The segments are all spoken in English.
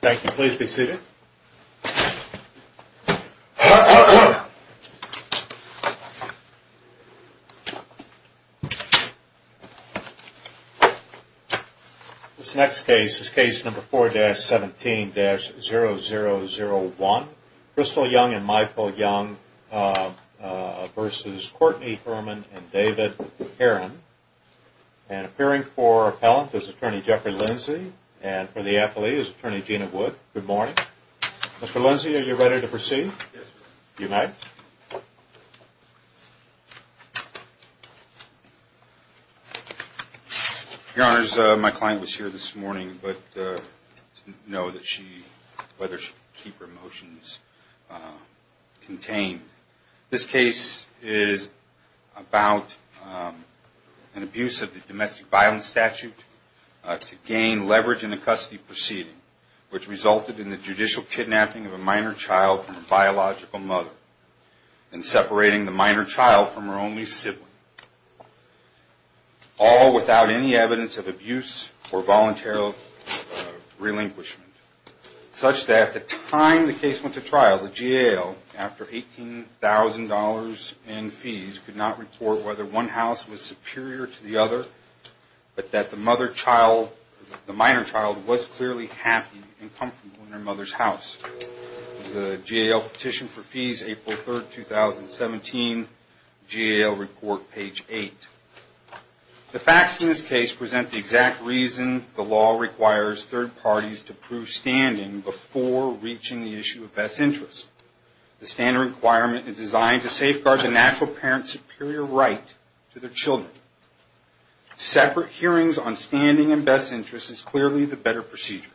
Thank you. Please be seated. This next case is case number 4-17-0001. Crystal Young and Michael Young v. Courtney Herman and David Herron. And appearing for appellant is Attorney Jeffrey Lindsey and for the appellee is Attorney Gina Wood. Good morning. Mr. Lindsey, are you ready to proceed? Yes, sir. You may. Your Honors, my client was here this morning but didn't know whether she should keep her motions contained. This case is about an abuse of the domestic violence statute to gain leverage in the custody proceeding, which resulted in the judicial kidnapping of a minor child from a biological mother and separating the minor child from her only sibling. All without any evidence of abuse or voluntary relinquishment, such that at the time the case went to trial, the GAO, after $18,000 in fees, could not report whether one house was superior to the other, but that the minor child was clearly happy and comfortable in her mother's house. The GAO petition for fees, April 3, 2017, GAO report, page 8. The facts in this case present the exact reason the law requires third parties to prove standing before reaching the issue of best interest. The standard requirement is designed to safeguard the natural parent's superior right to their children. Separate hearings on standing and best interest is clearly the better procedure.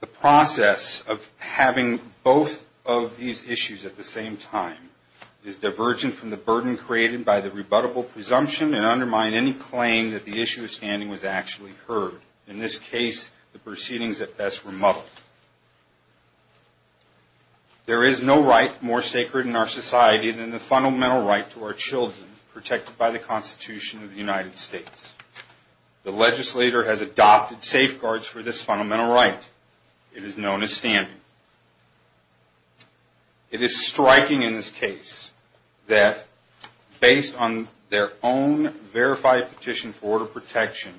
The process of having both of these issues at the same time is divergent from the burden created by the rebuttable presumption and undermine any claim that the issue of standing was actually heard. In this case, the proceedings at best were muddled. There is no right more sacred in our society than the fundamental right to our children, protected by the Constitution of the United States. The legislator has adopted safeguards for this fundamental right. It is known as standing. It is striking in this case that based on their own verified petition for order of protection,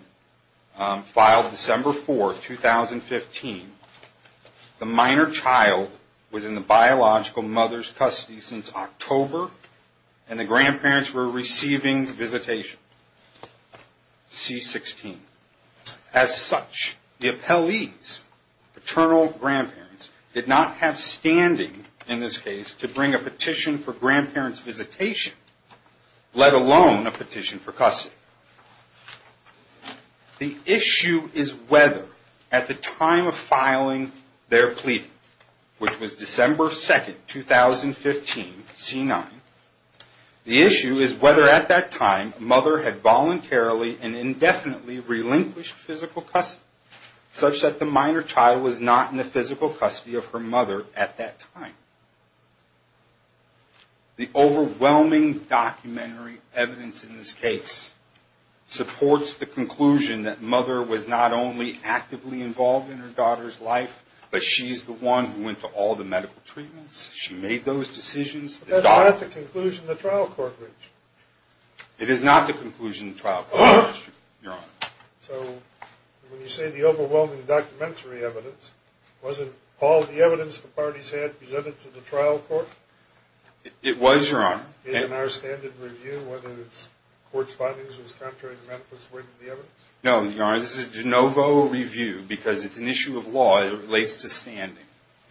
filed December 4, 2015, the minor child was in the biological mother's custody since October and the grandparents were receiving visitation, C-16. As such, the appellees, paternal grandparents, did not have standing in this case to bring a petition for grandparents' visitation, let alone a petition for custody. The issue is whether at the time of filing their plea, which was December 2, 2015, C-9, the issue is whether at that time a mother had voluntarily and indefinitely relinquished physical custody, such that the minor child was not in the physical custody of her mother at that time. The overwhelming documentary evidence in this case supports the conclusion that mother was not only actively involved in her daughter's life, but she's the one who went to all the medical treatments, she made those decisions. But that's not the conclusion the trial court reached. It is not the conclusion the trial court reached, Your Honor. So when you say the overwhelming documentary evidence, wasn't all the evidence the parties had presented to the trial court? It was, Your Honor. Isn't our standard review, whether it's court's findings was contrary to Memphis' weight in the evidence? No, Your Honor, this is de novo review because it's an issue of law, it relates to standing.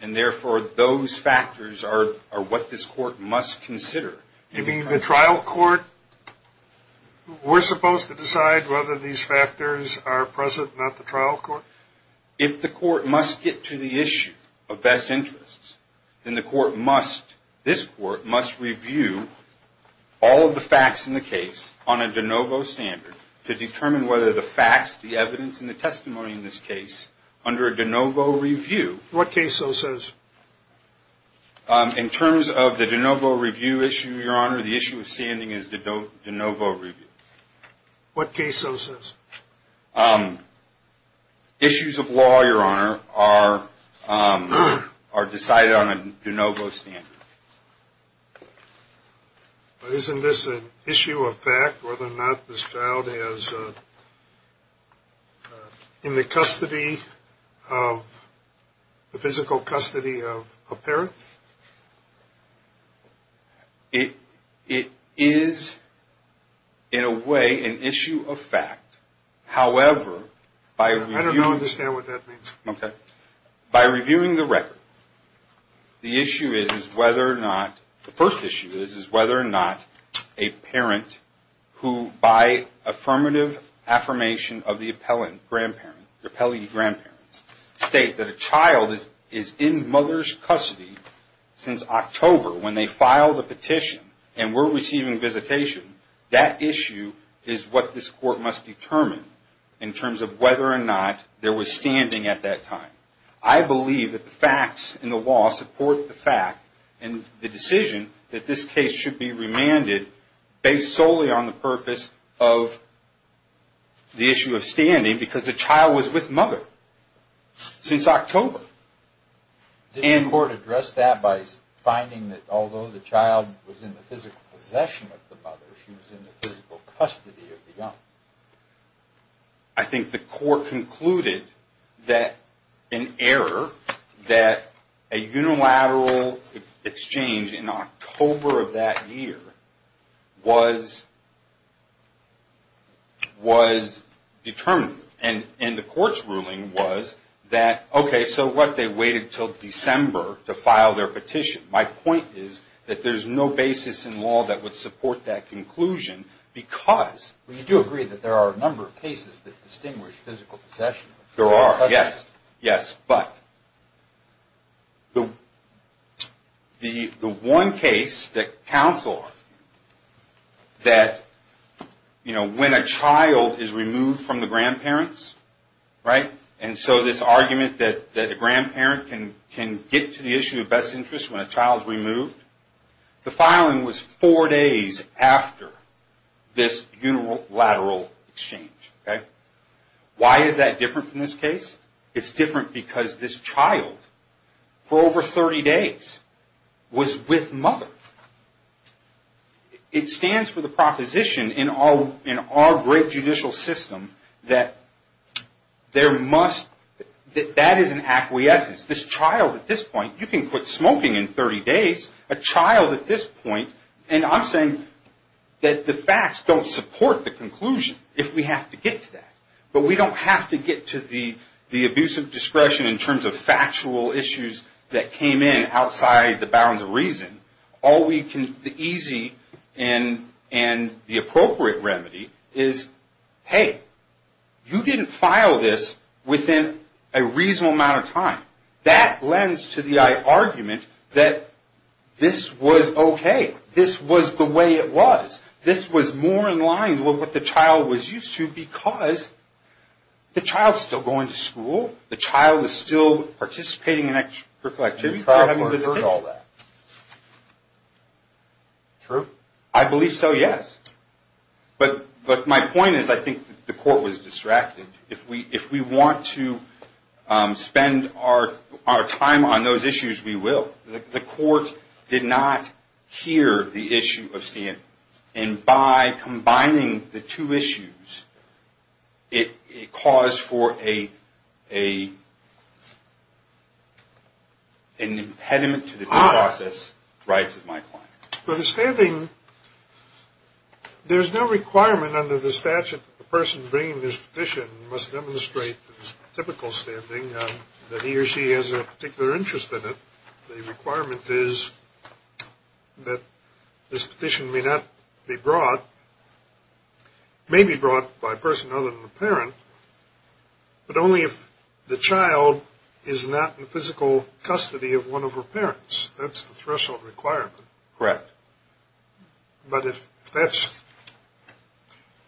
And therefore, those factors are what this court must consider. You mean the trial court, we're supposed to decide whether these factors are present, not the trial court? If the court must get to the issue of best interests, then the court must, this court must review all of the facts in the case on a de novo standard to determine whether the facts, the evidence, and the testimony in this case under a de novo review. What case so says? In terms of the de novo review issue, Your Honor, the issue of standing is de novo review. What case so says? Issues of law, Your Honor, are decided on a de novo standard. Isn't this an issue of fact, whether or not this child is in the custody, the physical custody of a parent? It is, in a way, an issue of fact. However, by reviewing... I don't understand what that means. By reviewing the record, the issue is whether or not, the first issue is whether or not a parent who, by affirmative affirmation of the appellate grandparent, the appellee grandparents, state that a child is in mother's custody since October when they filed the petition and were receiving visitation, that issue is what this court must determine in terms of whether or not there was standing at that time. I believe that the facts in the law support the fact and the decision that this case should be remanded based solely on the purpose of the issue of standing because the child was with mother since October. Did the court address that by finding that although the child was in the physical possession of the mother, she was in the physical custody of the young? I think the court concluded that an error, that a unilateral exchange in October of that year was determined. And the court's ruling was that, okay, so what? They waited until December to file their petition. My point is that there's no basis in law that would support that conclusion because... We do agree that there are a number of cases that distinguish physical possession. There are, yes. Yes, but the one case that counseled that when a child is removed from the grandparents, right, and so this argument that a grandparent can get to the issue of best interest when a child is removed, the filing was four days after this unilateral exchange, okay? Why is that different from this case? It's different because this child, for over 30 days, was with mother. It stands for the proposition in our great judicial system that there must... That that is an acquiescence. This child at this point, you can quit smoking in 30 days. A child at this point, and I'm saying that the facts don't support the conclusion if we have to get to that. But we don't have to get to the abuse of discretion in terms of factual issues that came in outside the bounds of reason. All we can... The easy and the appropriate remedy is, hey, you didn't file this within a reasonable amount of time. That lends to the argument that this was okay. This was the way it was. This was more in line with what the child was used to because the child's still going to school. The child is still participating in extracurricular activities. They're having a visitation. True. I believe so, yes. But my point is I think the court was distracted. If we want to spend our time on those issues, we will. The court did not hear the issue of standing. And by combining the two issues, it caused for an impediment to the due process, writes my client. For the standing, there's no requirement under the statute that the person bringing this petition must demonstrate typical standing, that he or she has a particular interest in it. The requirement is that this petition may not be brought, may be brought by a person other than the parent, but only if the child is not in physical custody of one of her parents. That's the threshold requirement. Correct. But if that's,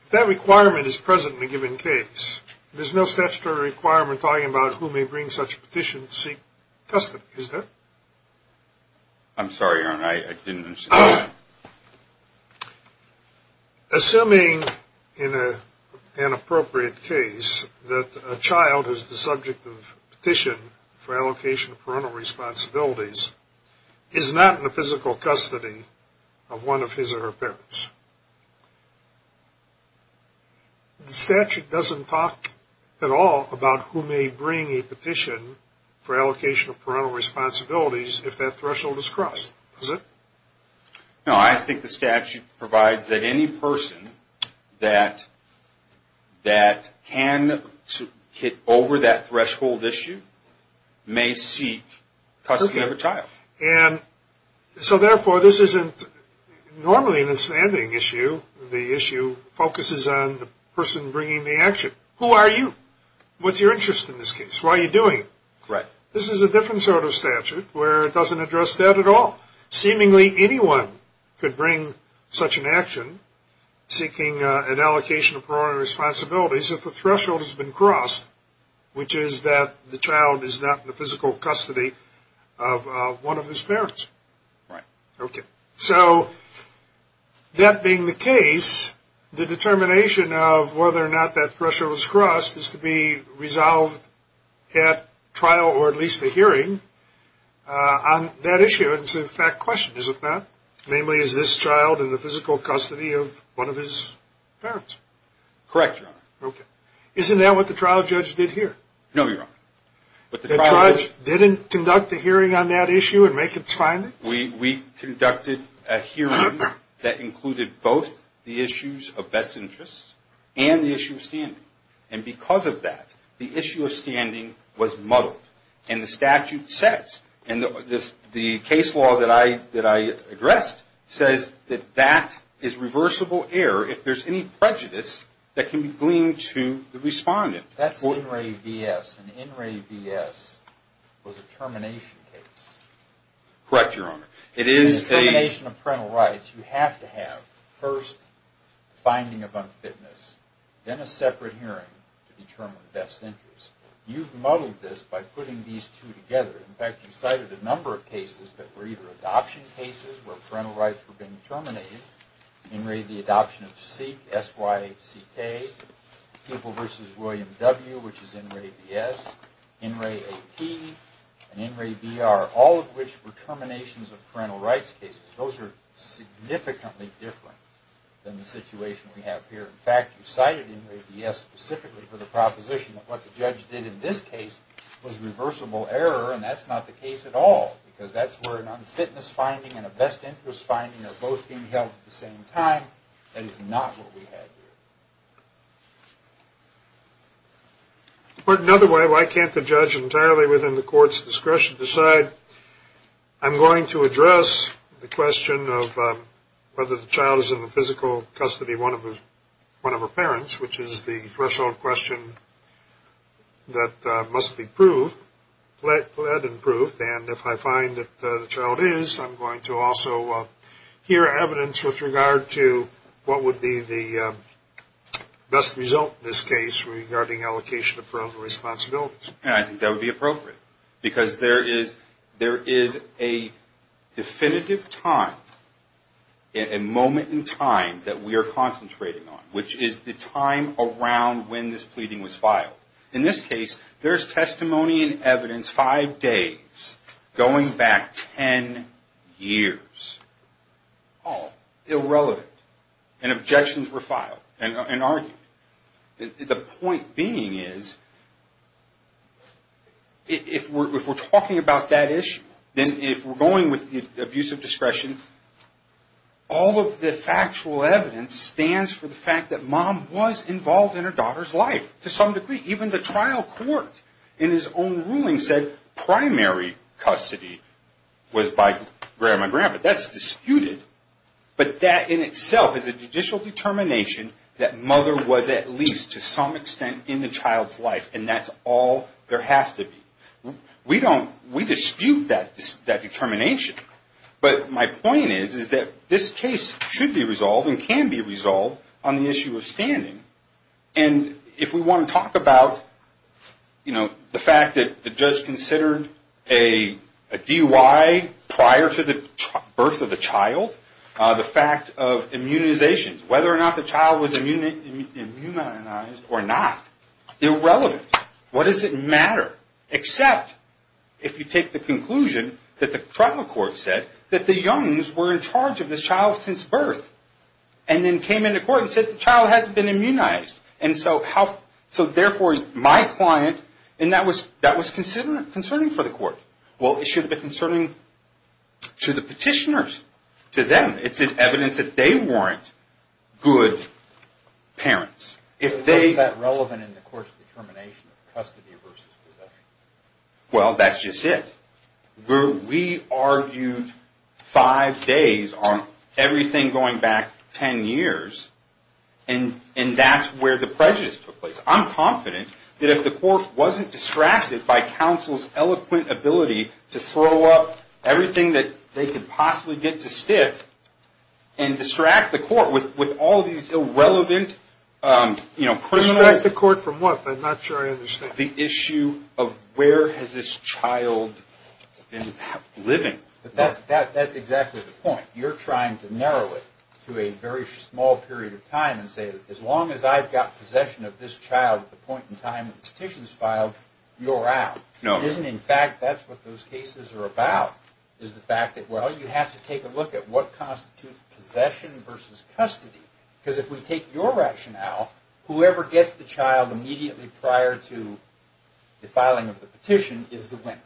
if that requirement is present in a given case, there's no statutory requirement talking about who may bring such a petition to seek custody, is there? I'm sorry, Aaron. I didn't understand. Assuming in an appropriate case that a child is the subject of petition for allocation of parental responsibilities is not in the physical custody of one of his or her parents, the statute doesn't talk at all about who may bring a petition for allocation of parental responsibilities if that threshold is crossed, does it? No, I think the statute provides that any person that can get over that threshold issue may seek custody of a child. Okay. And so, therefore, this isn't, normally in a standing issue, the issue focuses on the person bringing the action. Who are you? What's your interest in this case? Why are you doing it? Correct. This is a different sort of statute where it doesn't address that at all. Seemingly anyone could bring such an action seeking an allocation of parental responsibilities if the threshold has been crossed, which is that the child is not in the physical custody of one of his parents. Right. Okay. So, that being the case, the determination of whether or not that threshold was crossed is to be resolved at trial or at least a hearing on that issue. It's a fact question, is it not? Namely, is this child in the physical custody of one of his parents? Correct, Your Honor. Okay. Isn't that what the trial judge did here? No, Your Honor. The trial judge didn't conduct a hearing on that issue and make its findings? We conducted a hearing that included both the issues of best interests and the issue of standing. And because of that, the issue of standing was muddled and the statute says, and the case law that I addressed says that that is reversible error if there's any prejudice that can be gleaned to the respondent. That's an in-ray BS. An in-ray BS was a termination case. Correct, Your Honor. In termination of parental rights, you have to have first finding of unfitness, then a separate hearing to determine best interests. You've muddled this by putting these two together. In fact, you cited a number of cases that were either adoption cases where parental rights were being terminated, in-ray the adoption of C, S-Y-C-K, People v. William W., which is in-ray BS, in-ray AP, and in-ray BR, all of which were terminations of parental rights cases. Those are significantly different than the situation we have here. In fact, you cited in-ray BS specifically for the proposition that what the judge did in this case was reversible error, and that's not the case at all because that's where an unfitness finding and a best interest finding are both being held at the same time. That is not what we have here. Another way, why can't the judge entirely within the court's discretion decide, I'm going to address the question of whether the child is in the physical custody of one of her parents, which is the threshold question that must be proved, and if I find that the child is, I'm going to also hear evidence with regard to what would be the best result in this case regarding allocation of parental responsibilities. And I think that would be appropriate because there is a definitive time, a moment in time that we are concentrating on, which is the time around when this pleading was filed. In this case, there's testimony and evidence five days going back ten years, all irrelevant, and objections were filed and argued. The point being is, if we're talking about that issue, then if we're going with the abuse of discretion, all of the factual evidence stands for the fact that mom was involved in her daughter's life to some degree. Even the trial court in his own ruling said primary custody was by grandma and grandpa. That's disputed, but that in itself is a judicial determination that mother was at least to some extent in the child's life, and that's all there has to be. We dispute that determination, but my point is that this case should be resolved and can be resolved on the issue of standing. And if we want to talk about the fact that the judge considered a DUI prior to the birth of the child, the fact of immunization, whether or not the child was immunized or not, irrelevant. What does it matter except if you take the conclusion that the trial court said that the youngs were in charge of this child since birth, and then came into court and said the child hasn't been immunized, and so therefore my client, and that was concerning for the court. Well, it should have been concerning to the petitioners, to them. It's evidence that they weren't good parents. If they... Is that relevant in the court's determination of custody versus possession? Well, that's just it. We argued five days on everything going back ten years, and that's where the prejudice took place. I'm confident that if the court wasn't distracted by counsel's eloquent ability to throw up everything that they could possibly get to stick and distract the court with all these irrelevant... Distract the court from what? I'm not sure I understand. The issue of where has this child been living. That's exactly the point. You're trying to narrow it to a very small period of time and say, as long as I've got possession of this child at the point in time when the petition is filed, you're out. No. It isn't. In fact, that's what those cases are about, is the fact that, well, you have to take a look at what constitutes possession versus custody. Because if we take your rationale, whoever gets the child immediately prior to the filing of the petition is the winner.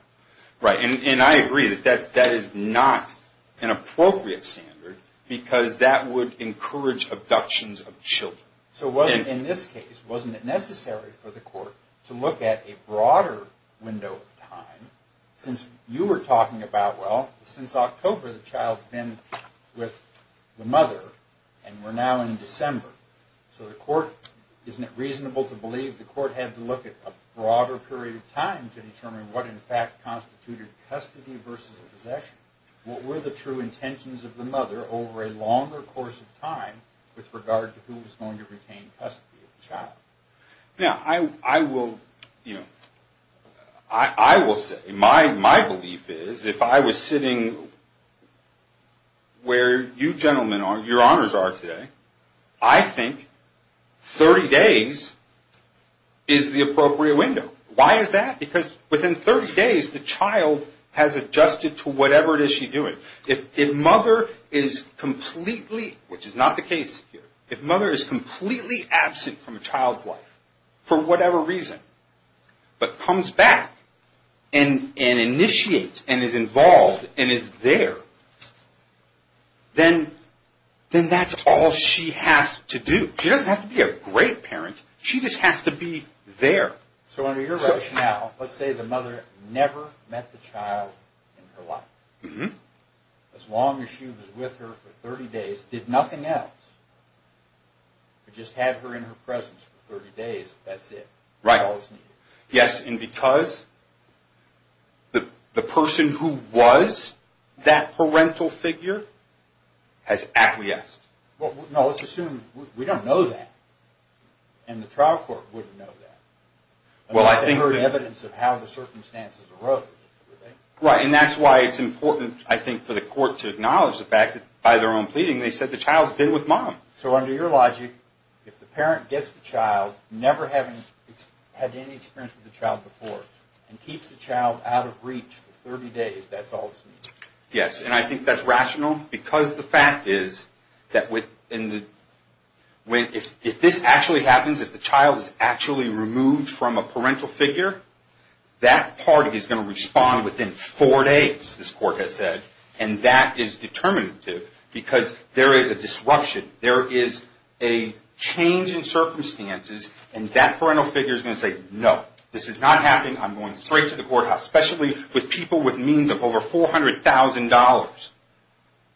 Right. And I agree that that is not an appropriate standard because that would encourage abductions of children. So in this case, wasn't it necessary for the court to look at a broader window of time since you were talking about, well, since October the child's been with the mother and we're now in December. So the court, isn't it reasonable to believe the court had to look at a broader period of time to determine what in fact constituted custody versus possession? What were the true intentions of the mother over a longer course of time with regard to who was going to retain custody of the child? Now, I will say, my belief is if I was sitting where you gentlemen, your honors are today, I think 30 days is the appropriate window. Why is that? Because within 30 days, the child has adjusted to whatever it is she's doing. If mother is completely, which is not the case here, if mother is completely absent from a child's life for whatever reason, but comes back and initiates and is involved and is there, then that's all she has to do. She doesn't have to be a great parent. She just has to be there. So under your rationale, let's say the mother never met the child in her life. As long as she was with her for 30 days, did nothing else but just had her in her presence for 30 days, that's it. Right. That's all that's needed. Yes, and because the person who was that parental figure has acquiesced. Well, no, let's assume we don't know that, and the trial court wouldn't know that. Unless they heard evidence of how the circumstances arose. Right, and that's why it's important, I think, for the court to acknowledge the fact that by their own pleading, they said the child's been with mom. So under your logic, if the parent gets the child, never having had any experience with the child before, and keeps the child out of reach for 30 days, that's all that's needed. Yes, and I think that's rational. Because the fact is that if this actually happens, if the child is actually removed from a parental figure, that party is going to respond within four days, this court has said, and that is determinative because there is a disruption. There is a change in circumstances, and that parental figure is going to say, no, this is not happening. I'm going straight to the courthouse, especially with people with means of over $400,000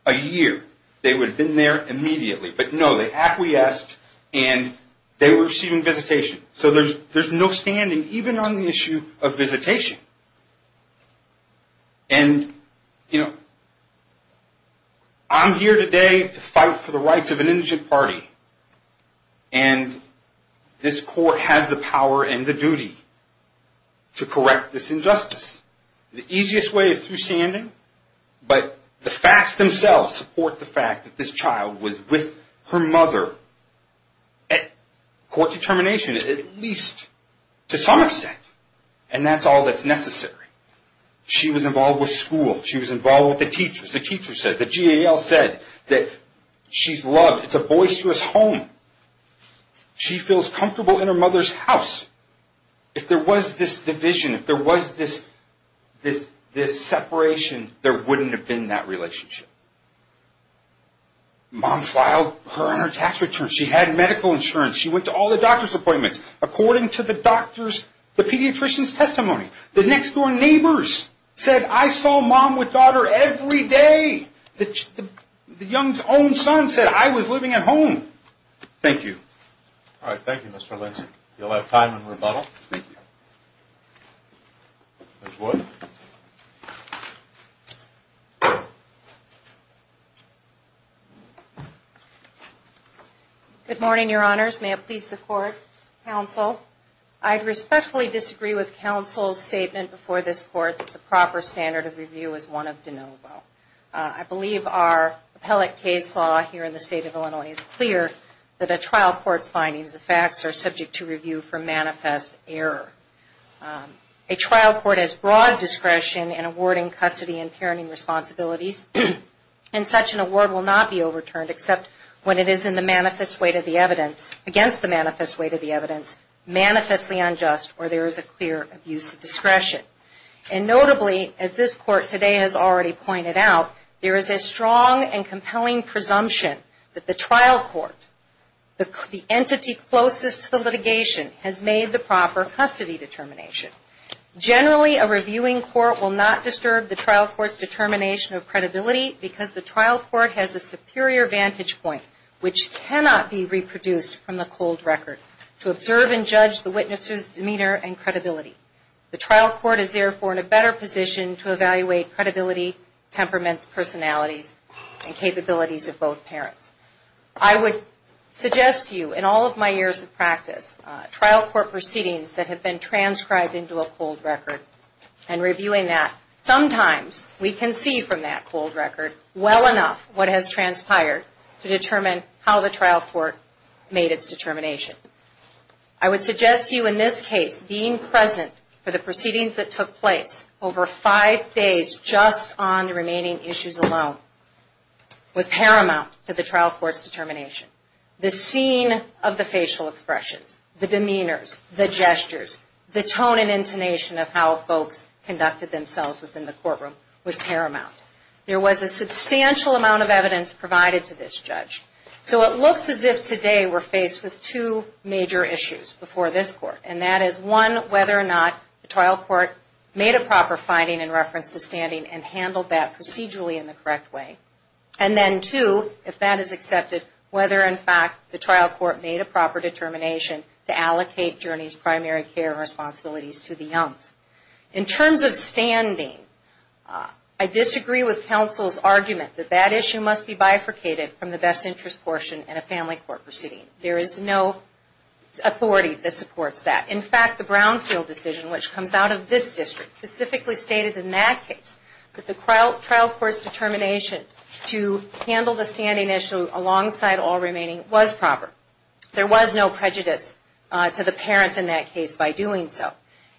a year. They would have been there immediately. But no, they acquiesced, and they were receiving visitation. So there's no standing, even on the issue of visitation. And, you know, I'm here today to fight for the rights of an indigent party, and this court has the power and the duty to correct this injustice. The easiest way is through standing, but the facts themselves support the fact that this child was with her mother at court determination, at least to some extent. And that's all that's necessary. She was involved with school. She was involved with the teachers. The teachers said, the GAL said that she's loved. It's a boisterous home. She feels comfortable in her mother's house. If there was this division, if there was this separation, there wouldn't have been that relationship. Mom filed her on her tax return. She had medical insurance. She went to all the doctor's appointments. According to the doctor's, the pediatrician's testimony, the next-door neighbors said, I saw mom with daughter every day. The young's own son said, I was living at home. Thank you. All right. Thank you, Mr. Lindsay. You'll have time in rebuttal. Thank you. Ms. Wood. Good morning, Your Honors. May it please the Court, Counsel. I respectfully disagree with Counsel's statement before this Court that the proper standard of review is one of de novo. I believe our appellate case law here in the State of Illinois is clear that a trial court's findings, the facts are subject to review for manifest error. A trial court has broad discretion in awarding custody and parenting responsibilities, and such an award will not be overturned except when it is in the manifest weight of the evidence, against the manifest weight of the evidence, manifestly unjust, or there is a clear abuse of discretion. And notably, as this Court today has already pointed out, there is a strong and compelling presumption that the trial court, the entity closest to the litigation, has made the proper custody determination. Generally, a reviewing court will not disturb the trial court's determination of credibility, because the trial court has a superior vantage point, which cannot be reproduced from the cold record, to observe and judge the witness's demeanor and credibility. The trial court is, therefore, in a better position to evaluate credibility, temperaments, personalities, and capabilities of both parents. I would suggest to you, in all of my years of practice, trial court proceedings that have been transcribed into a cold record, and reviewing that, sometimes we can see from that cold record, well enough, what has transpired, to determine how the trial court made its determination. I would suggest to you, in this case, being present for the proceedings that took place over five days, just on the remaining issues alone, was paramount to the trial court's determination. The scene of the facial expressions, the demeanors, the gestures, the tone and intonation of how folks conducted themselves within the courtroom was paramount. There was a substantial amount of evidence provided to this judge. It looks as if, today, we're faced with two major issues before this court, and that is, one, whether or not the trial court made a proper finding in reference to standing, and handled that procedurally in the correct way. And then, two, if that is accepted, whether in fact the trial court made a proper determination to allocate Journey's primary care responsibilities to the youngs. In terms of standing, I disagree with counsel's argument that that issue must be bifurcated from the best interest portion in a family court proceeding. There is no authority that supports that. In fact, the Brownfield decision, which comes out of this district, specifically stated in that case that the trial court's determination to handle the standing issue alongside all remaining was proper. There was no prejudice to the parents in that case by doing so.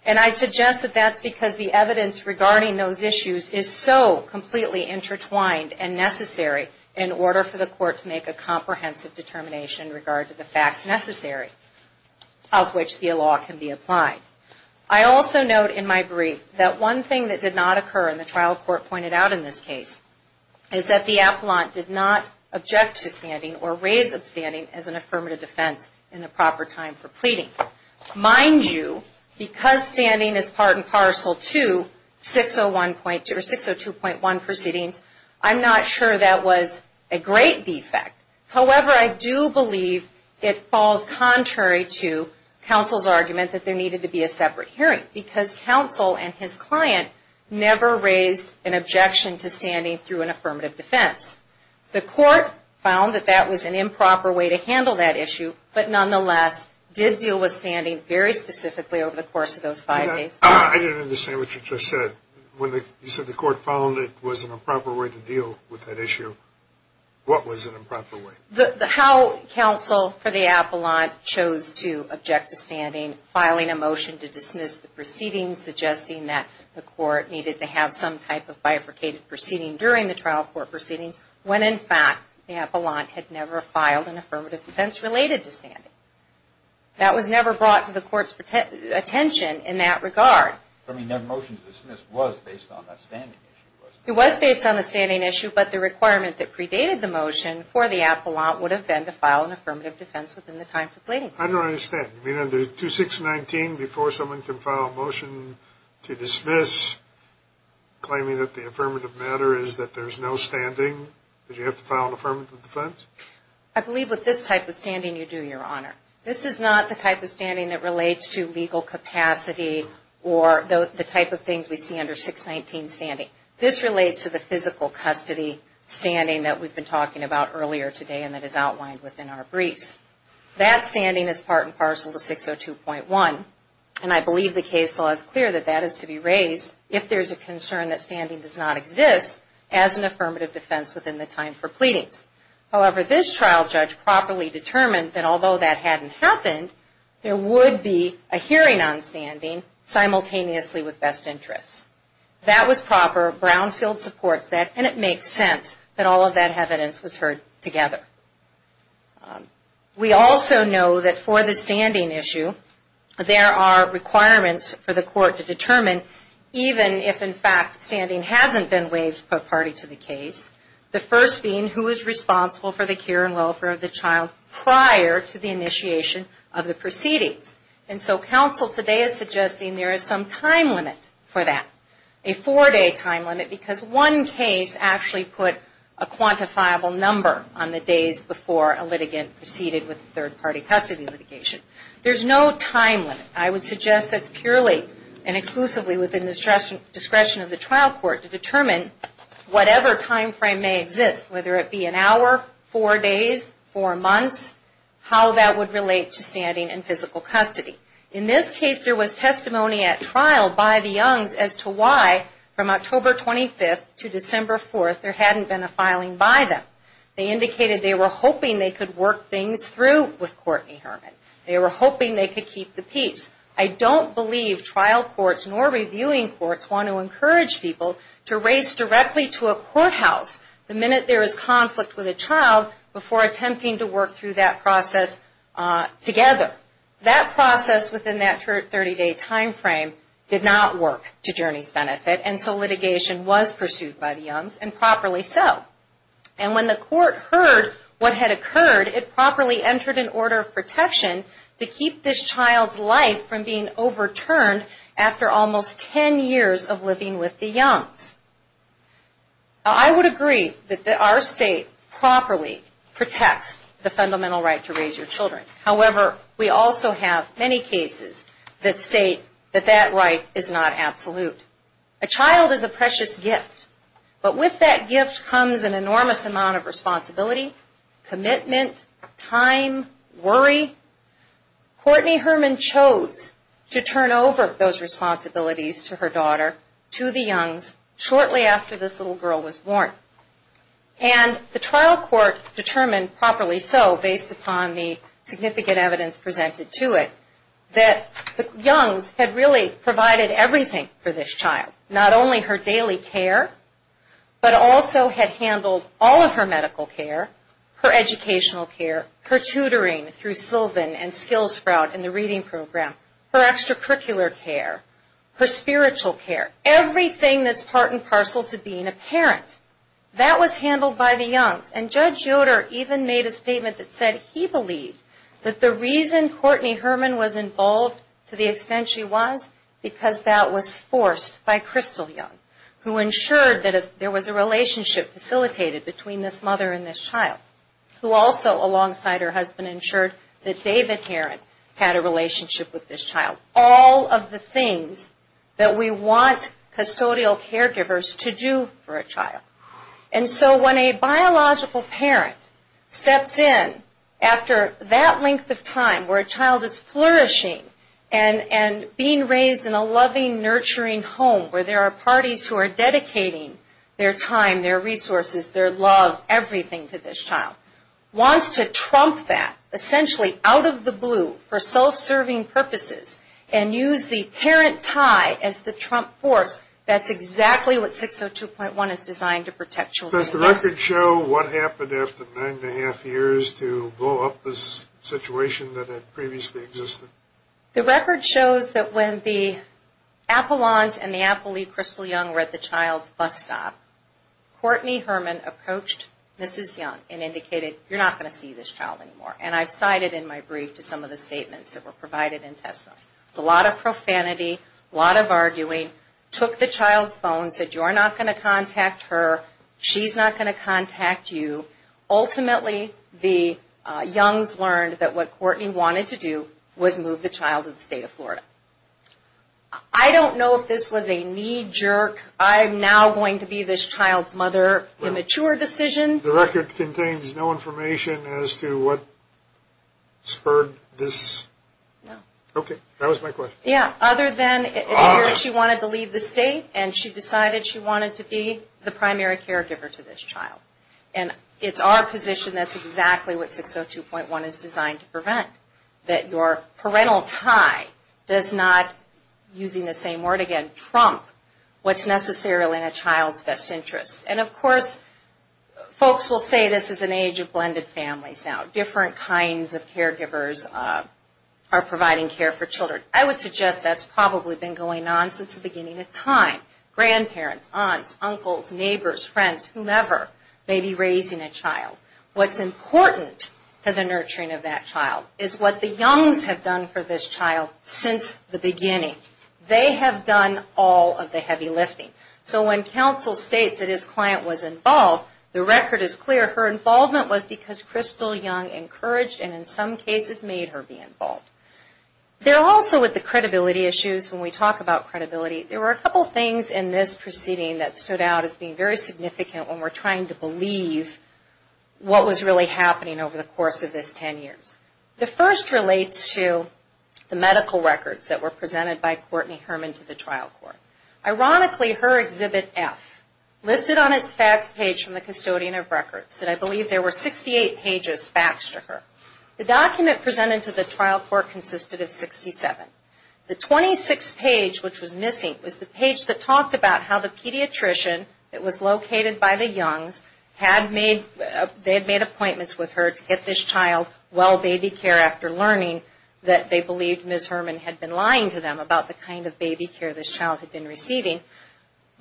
And I suggest that that's because the evidence regarding those issues is so completely intertwined and necessary in order for the court to make a comprehensive determination in regard to the facts necessary of which the law can be applied. I also note in my brief that one thing that did not occur in the trial court pointed out in this case is that the appellant did not object to standing or raise upstanding as an affirmative defense in the proper time for pleading. Mind you, because standing is part and parcel to 602.1 proceedings, I'm not sure that was a great defect. However, I do believe it falls contrary to counsel's argument that there needed to be a separate hearing because counsel and his client never raised an objection to standing through an affirmative defense. The court found that that was an improper way to handle that issue, but nonetheless did deal with standing very specifically over the course of those five days. I didn't understand what you just said. When you said the court found it was an improper way to deal with that issue, what was an improper way? How counsel for the appellant chose to object to standing, filing a motion to dismiss the proceedings, suggesting that the court needed to have some type of bifurcated proceeding during the trial court proceedings when, in fact, the appellant had never filed an affirmative defense related to standing. That was never brought to the court's attention in that regard. I mean, their motion to dismiss was based on that standing issue, wasn't it? It was based on the standing issue, but the requirement that predated the motion for the appellant would have been to file an affirmative defense within the time for pleading. I don't understand. You mean under 2619, before someone can file a motion to dismiss, claiming that the affirmative matter is that there's no standing, that you have to file an affirmative defense? I believe with this type of standing, you do, Your Honor. This is not the type of standing that relates to legal capacity or the type of things we see under 619 standing. This relates to the physical custody standing that we've been talking about earlier today and that is outlined within our briefs. That standing is part and parcel to 602.1, and I believe the case law is clear that that is to be raised if there's a concern that standing does not exist as an affirmative defense within the time for pleadings. However, this trial judge properly determined that although that hadn't happened, there would be a hearing on standing simultaneously with best interests. That was proper. Brownfield supports that, and it makes sense that all of that evidence was heard together. We also know that for the standing issue, there are requirements for the court to determine, even if, in fact, standing hasn't been waived per party to the case, the first being who is responsible for the care and welfare of the child prior to the initiation of the proceedings. And so counsel today is suggesting there is some time limit for that, a four-day time limit, because one case actually put a quantifiable number on the days before a litigant proceeded with third-party custody litigation. There's no time limit. I would suggest that's purely and exclusively within the discretion of the trial court to determine whatever time frame may exist, whether it be an hour, four days, four months, how that would relate to standing and physical custody. In this case, there was testimony at trial by the Youngs as to why, from October 25th to December 4th, there hadn't been a filing by them. They indicated they were hoping they could work things through with Courtney Herman. They were hoping they could keep the peace. I don't believe trial courts nor reviewing courts want to encourage people to race directly to a courthouse the minute there is conflict with a child before attempting to work through that process together. That process within that 30-day time frame did not work to Jurnee's benefit, and so litigation was pursued by the Youngs, and properly so. And when the court heard what had occurred, it properly entered an order of protection to keep this child's life from being overturned after almost ten years of living with the Youngs. I would agree that our state properly protects the fundamental right to raise your children. However, we also have many cases that state that that right is not absolute. A child is a precious gift, but with that gift comes an enormous amount of responsibility, commitment, time, worry. Courtney Herman chose to turn over those responsibilities to her daughter, to the Youngs, shortly after this little girl was born. And the trial court determined, properly so, based upon the significant evidence presented to it, that the Youngs had really provided everything for this child. Not only her daily care, but also had handled all of her medical care, her educational care, her tutoring through Sylvan and Skills Sprout in the reading program, her extracurricular care, her spiritual care, everything that's part and parcel to being a parent. That was handled by the Youngs. And Judge Yoder even made a statement that said he believed that the reason Courtney Herman was involved to the extent she was, because that was forced by Crystal Young, who ensured that there was a relationship facilitated between this mother and this child. Who also, alongside her husband, ensured that David Heron had a relationship with this child. All of the things that we want custodial caregivers to do for a child. And so when a biological parent steps in after that length of time where a child is flourishing and being raised in a loving, nurturing home where there are parties who are dedicating their time, their resources, their love, everything to this child. Wants to trump that, essentially out of the blue, for self-serving purposes and use the parent tie as the trump force, that's exactly what 602.1 is designed to protect children. Does the record show what happened after nine and a half years to blow up this situation that had previously existed? The record shows that when the Apollons and the Apolly Crystal Young were at the child's bus stop, Courtney Herman approached Mrs. Young and indicated, you're not going to see this child anymore. And I've cited in my brief to some of the statements that were provided in testimony. A lot of profanity, a lot of arguing, took the child's phone, said you're not going to contact her, she's not going to contact you. Ultimately, the Youngs learned that what Courtney wanted to do was move the child to the state of Florida. I don't know if this was a knee-jerk, I'm now going to be this child's mother, immature decision. The record contains no information as to what spurred this? No. Okay, that was my question. Yeah, other than she wanted to leave the state and she decided she wanted to be the primary caregiver to this child. And it's our position that's exactly what 602.1 is designed to prevent, that your parental tie does not, using the same word again, trump what's necessarily in a child's best interest. And of course, folks will say this is an age of blended families now. Different kinds of caregivers are providing care for children. I would suggest that's probably been going on since the beginning of time. Grandparents, aunts, uncles, neighbors, friends, whomever may be raising a child. What's important to the nurturing of that child is what the Youngs have done for this child since the beginning. They have done all of the heavy lifting. So when counsel states that his client was involved, the record is clear, her involvement was because Crystal Young encouraged and in some cases made her be involved. There also with the credibility issues, when we talk about credibility, there were a couple things in this proceeding that stood out as being very significant when we're trying to believe what was really happening over the course of this 10 years. The first relates to the medical records that were presented by Courtney Herman to the trial court. Ironically, her Exhibit F, listed on its fax page from the custodian of records, and I believe there were 68 pages faxed to her. The document presented to the trial court consisted of 67. The 26th page, which was missing, was the page that talked about how the pediatrician, it was located by the Youngs, they had made appointments with her to get this child well baby care after learning that they believed Ms. Herman had been lying to them about the kind of baby care this child had been receiving.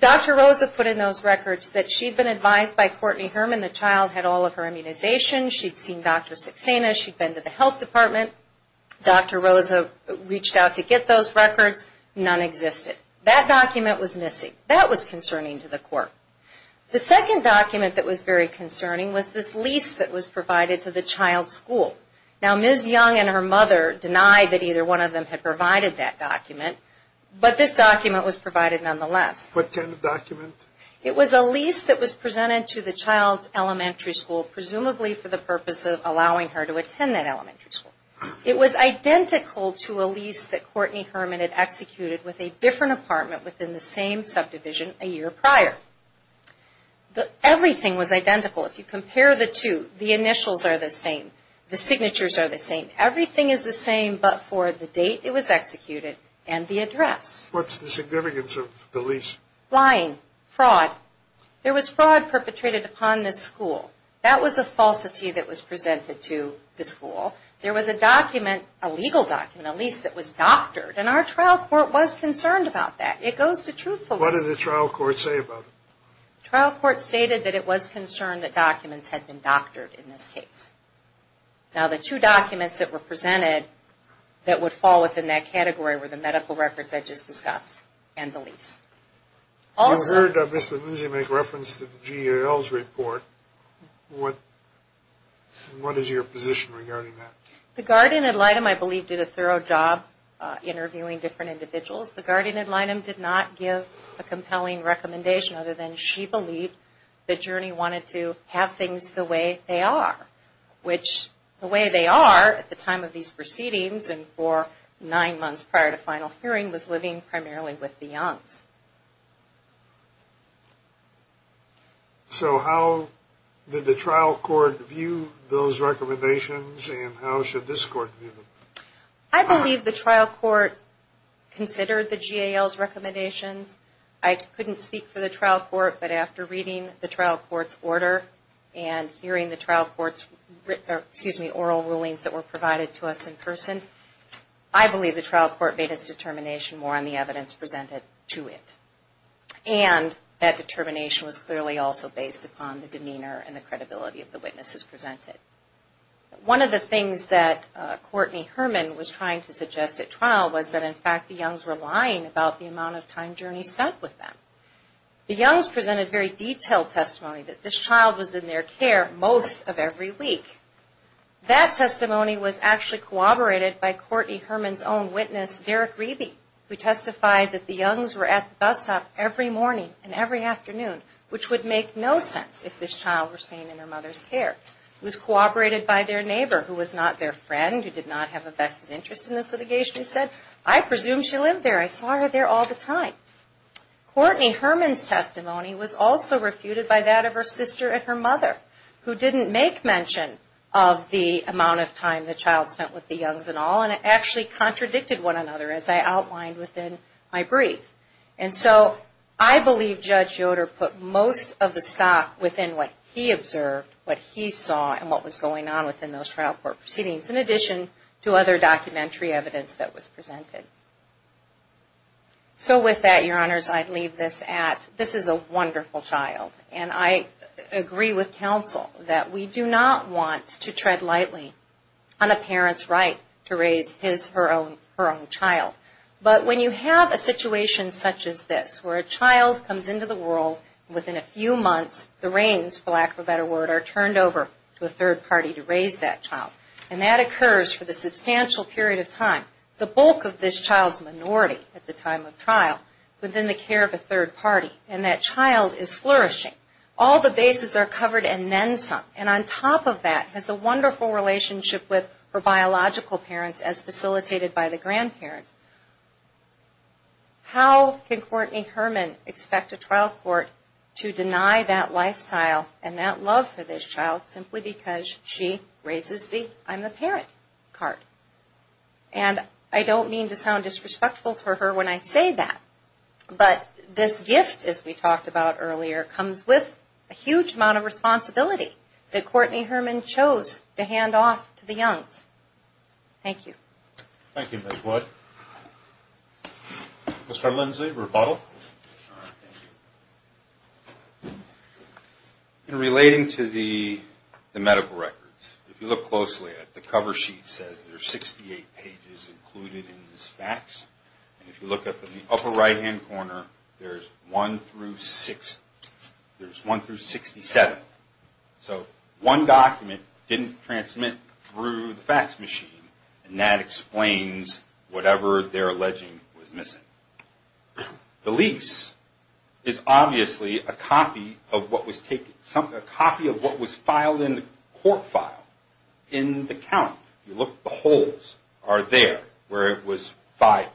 Dr. Rosa put in those records that she'd been advised by Courtney Herman the child had all of her immunizations, she'd seen Dr. Saxena, she'd been to the health department, Dr. Rosa reached out to get those records, none existed. That document was missing. That was concerning to the court. The second document that was very concerning was this lease that was provided to the child's school. Now Ms. Young and her mother denied that either one of them had provided that document, but this document was provided nonetheless. What kind of document? It was a lease that was presented to the child's elementary school, presumably for the purpose of allowing her to attend that elementary school. It was identical to a lease that Courtney Herman had executed with a different apartment within the same subdivision a year prior. Everything was identical. If you compare the two, the initials are the same, the signatures are the same. Everything is the same but for the date it was executed and the address. What's the significance of the lease? Lying. Fraud. There was fraud perpetrated upon this school. That was a falsity that was presented to the school. There was a document, a legal document, a lease that was doctored, and our trial court was concerned about that. It goes to truthfulness. What did the trial court say about it? The trial court stated that it was concerned that documents had been doctored in this case. Now the two documents that were presented that would fall within that category were the medical records I just discussed and the lease. You heard Mr. Lindsay make reference to the GAL's report. What is your position regarding that? The guardian ad litem, I believe, did a thorough job interviewing different individuals. The guardian ad litem did not give a compelling recommendation other than she believed that Journey wanted to have things the way they are, which the way they are at the time of these proceedings and for nine months prior to final hearing was living primarily with Beyonce. So how did the trial court view those recommendations and how should this court view them? I believe the trial court considered the GAL's recommendations. I couldn't speak for the trial court, but after reading the trial court's order and hearing the trial court's oral rulings that were provided to us in person, I believe the trial court made its determination more on the evidence presented to it. And that determination was clearly also based upon the demeanor and the credibility of the witnesses presented. One of the things that Courtney Herman was trying to suggest at trial was that, in fact, the Youngs were lying about the amount of time Journey spent with them. The Youngs presented very detailed testimony that this child was in their care most of every week. That testimony was actually corroborated by Courtney Herman's own witness, Derek Reby, who testified that the Youngs were at the bus stop every morning and every afternoon, which would make no sense if this child were staying in her mother's care. It was corroborated by their neighbor, who was not their friend, who did not have a vested interest in the litigation, who said, Courtney Herman's testimony was also refuted by that of her sister and her mother, who didn't make mention of the amount of time the child spent with the Youngs at all, and actually contradicted one another, as I outlined within my brief. And so I believe Judge Yoder put most of the stock within what he observed, what he saw, and what was going on within those trial court proceedings, in addition to other documentary evidence that was presented. So with that, Your Honors, I'd leave this at, this is a wonderful child, and I agree with counsel that we do not want to tread lightly on a parent's right to raise his or her own child. But when you have a situation such as this, where a child comes into the world, within a few months, the reins, for lack of a better word, are turned over to a third party to raise that child, and that occurs for the substantial period of time. The bulk of this child's minority at the time of trial, within the care of a third party, and that child is flourishing. All the bases are covered and then some. And on top of that, has a wonderful relationship with her biological parents, as facilitated by the grandparents. How can Courtney Herman expect a trial court to deny that lifestyle and that love for this child, simply because she raises the, I'm the parent, card? And I don't mean to sound disrespectful to her when I say that, but this gift, as we talked about earlier, comes with a huge amount of responsibility that Courtney Herman chose to hand off to the youngs. Thank you. Thank you, Ms. Wood. Mr. Lindsley, rebuttal. Thank you. In relating to the medical records, if you look closely at the cover sheet, it says there's 68 pages included in this fax. And if you look up in the upper right-hand corner, there's one through six, there's one through 67. So one document didn't transmit through the fax machine, and that explains whatever they're alleging was missing. The lease is obviously a copy of what was taken, the holes are there where it was filed.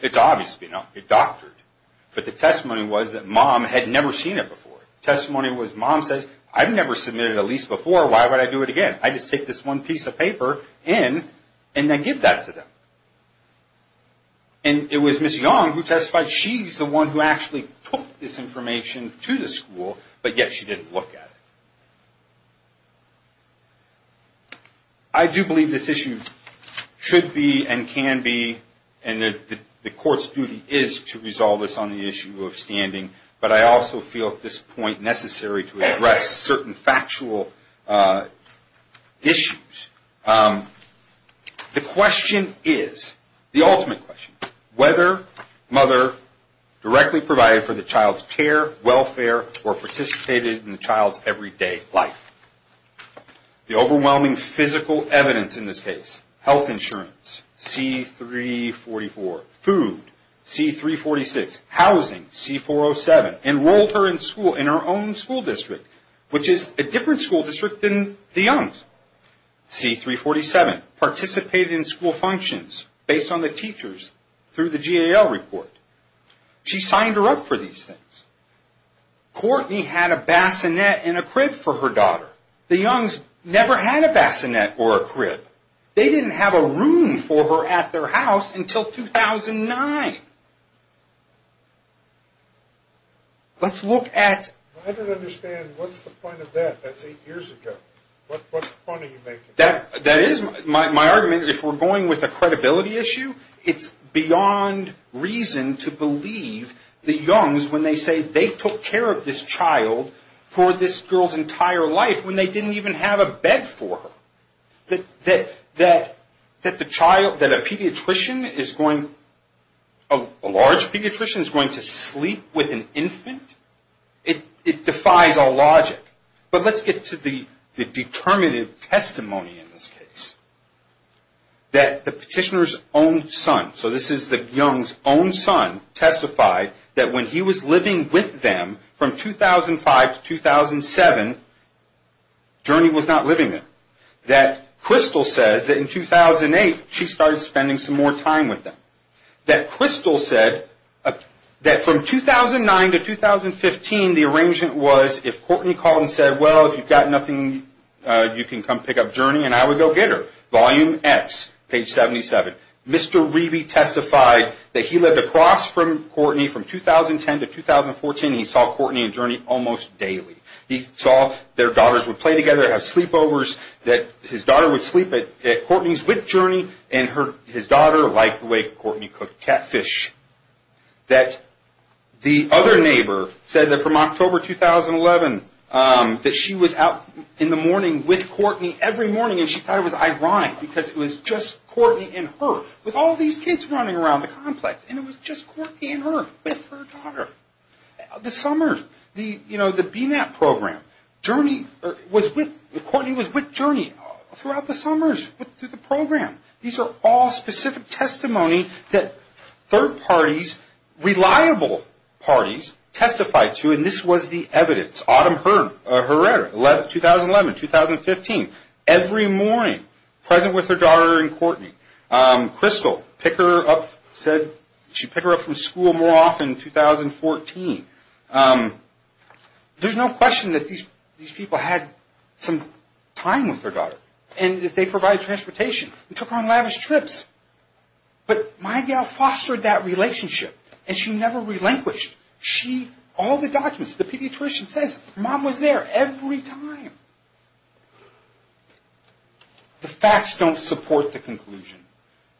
It's obvious, you know, it doctored. But the testimony was that Mom had never seen it before. The testimony was Mom says, I've never submitted a lease before, why would I do it again? I just take this one piece of paper in and then give that to them. And it was Ms. Young who testified, she's the one who actually took this information to the school, but yet she didn't look at it. I do believe this issue should be and can be, and the court's duty is to resolve this on the issue of standing, but I also feel at this point necessary to address certain factual issues. The question is, the ultimate question, whether Mother directly provided for the child's care, welfare, or participated in the child's everyday life. The overwhelming physical evidence in this case, health insurance, C-344. Food, C-346. Housing, C-407. Enrolled her in school, in her own school district, which is a different school district than the Young's. C-347, participated in school functions based on the teachers through the GAL report. She signed her up for these things. Courtney had a bassinet and a crib for her daughter. The Young's never had a bassinet or a crib. They didn't have a room for her at their house until 2009. Let's look at... I don't understand. What's the point of that? That's eight years ago. What point are you making? That is my argument. If we're going with a credibility issue, it's beyond reason to believe the Young's when they say they took care of this child for this girl's entire life when they didn't even have a bed for her. That the child, that a pediatrician is going, a large pediatrician is going to sleep with an infant, it defies all logic. But let's get to the determinative testimony in this case, that the petitioner's own son, so this is the Young's own son, testified that when he was living with them from 2005 to 2007, Journey was not living there. That Crystal says that in 2008, she started spending some more time with them. That Crystal said that from 2009 to 2015, the arrangement was if Courtney called and said, well, if you've got nothing, you can come pick up Journey and I would go get her. Volume X, page 77. Mr. Reby testified that he lived across from Courtney from 2010 to 2014. He saw Courtney and Journey almost daily. He saw their daughters would play together, have sleepovers, that his daughter would sleep at Courtney's with Journey, and his daughter liked the way Courtney cooked catfish. That the other neighbor said that from October 2011 that she was out in the morning with Courtney every morning and she thought it was ironic because it was just Courtney and her with all these kids running around the complex. And it was just Courtney and her with her daughter. The summers, the BNAP program, Journey was with, Courtney was with Journey throughout the summers through the program. These are all specific testimony that third parties, reliable parties, testified to and this was the evidence. Autumn Herrera, 2011, 2015. Every morning, present with her daughter and Courtney. Crystal, she picked her up from school more often in 2014. There's no question that these people had some time with their daughter and that they provided transportation and took her on lavish trips. But my gal fostered that relationship and she never relinquished. All the documents, the pediatrician says mom was there every time. The facts don't support the conclusion.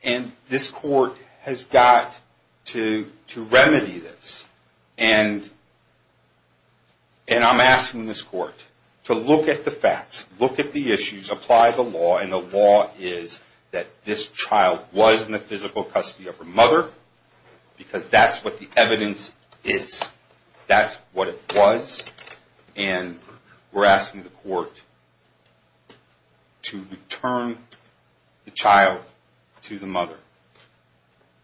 And this court has got to remedy this. And I'm asking this court to look at the facts, look at the issues, apply the law and the law is that this child was in the physical custody of her mother because that's what the evidence is. That's what it was. And we're asking the court to return the child to the mother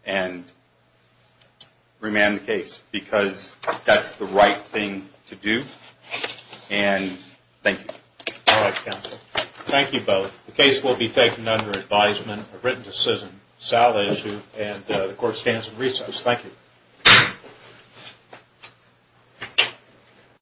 and remand the case because that's the right thing to do. And thank you. All right, counsel. Thank you both. The case will be taken under advisement, a written decision, and the court stands in recess. Thank you.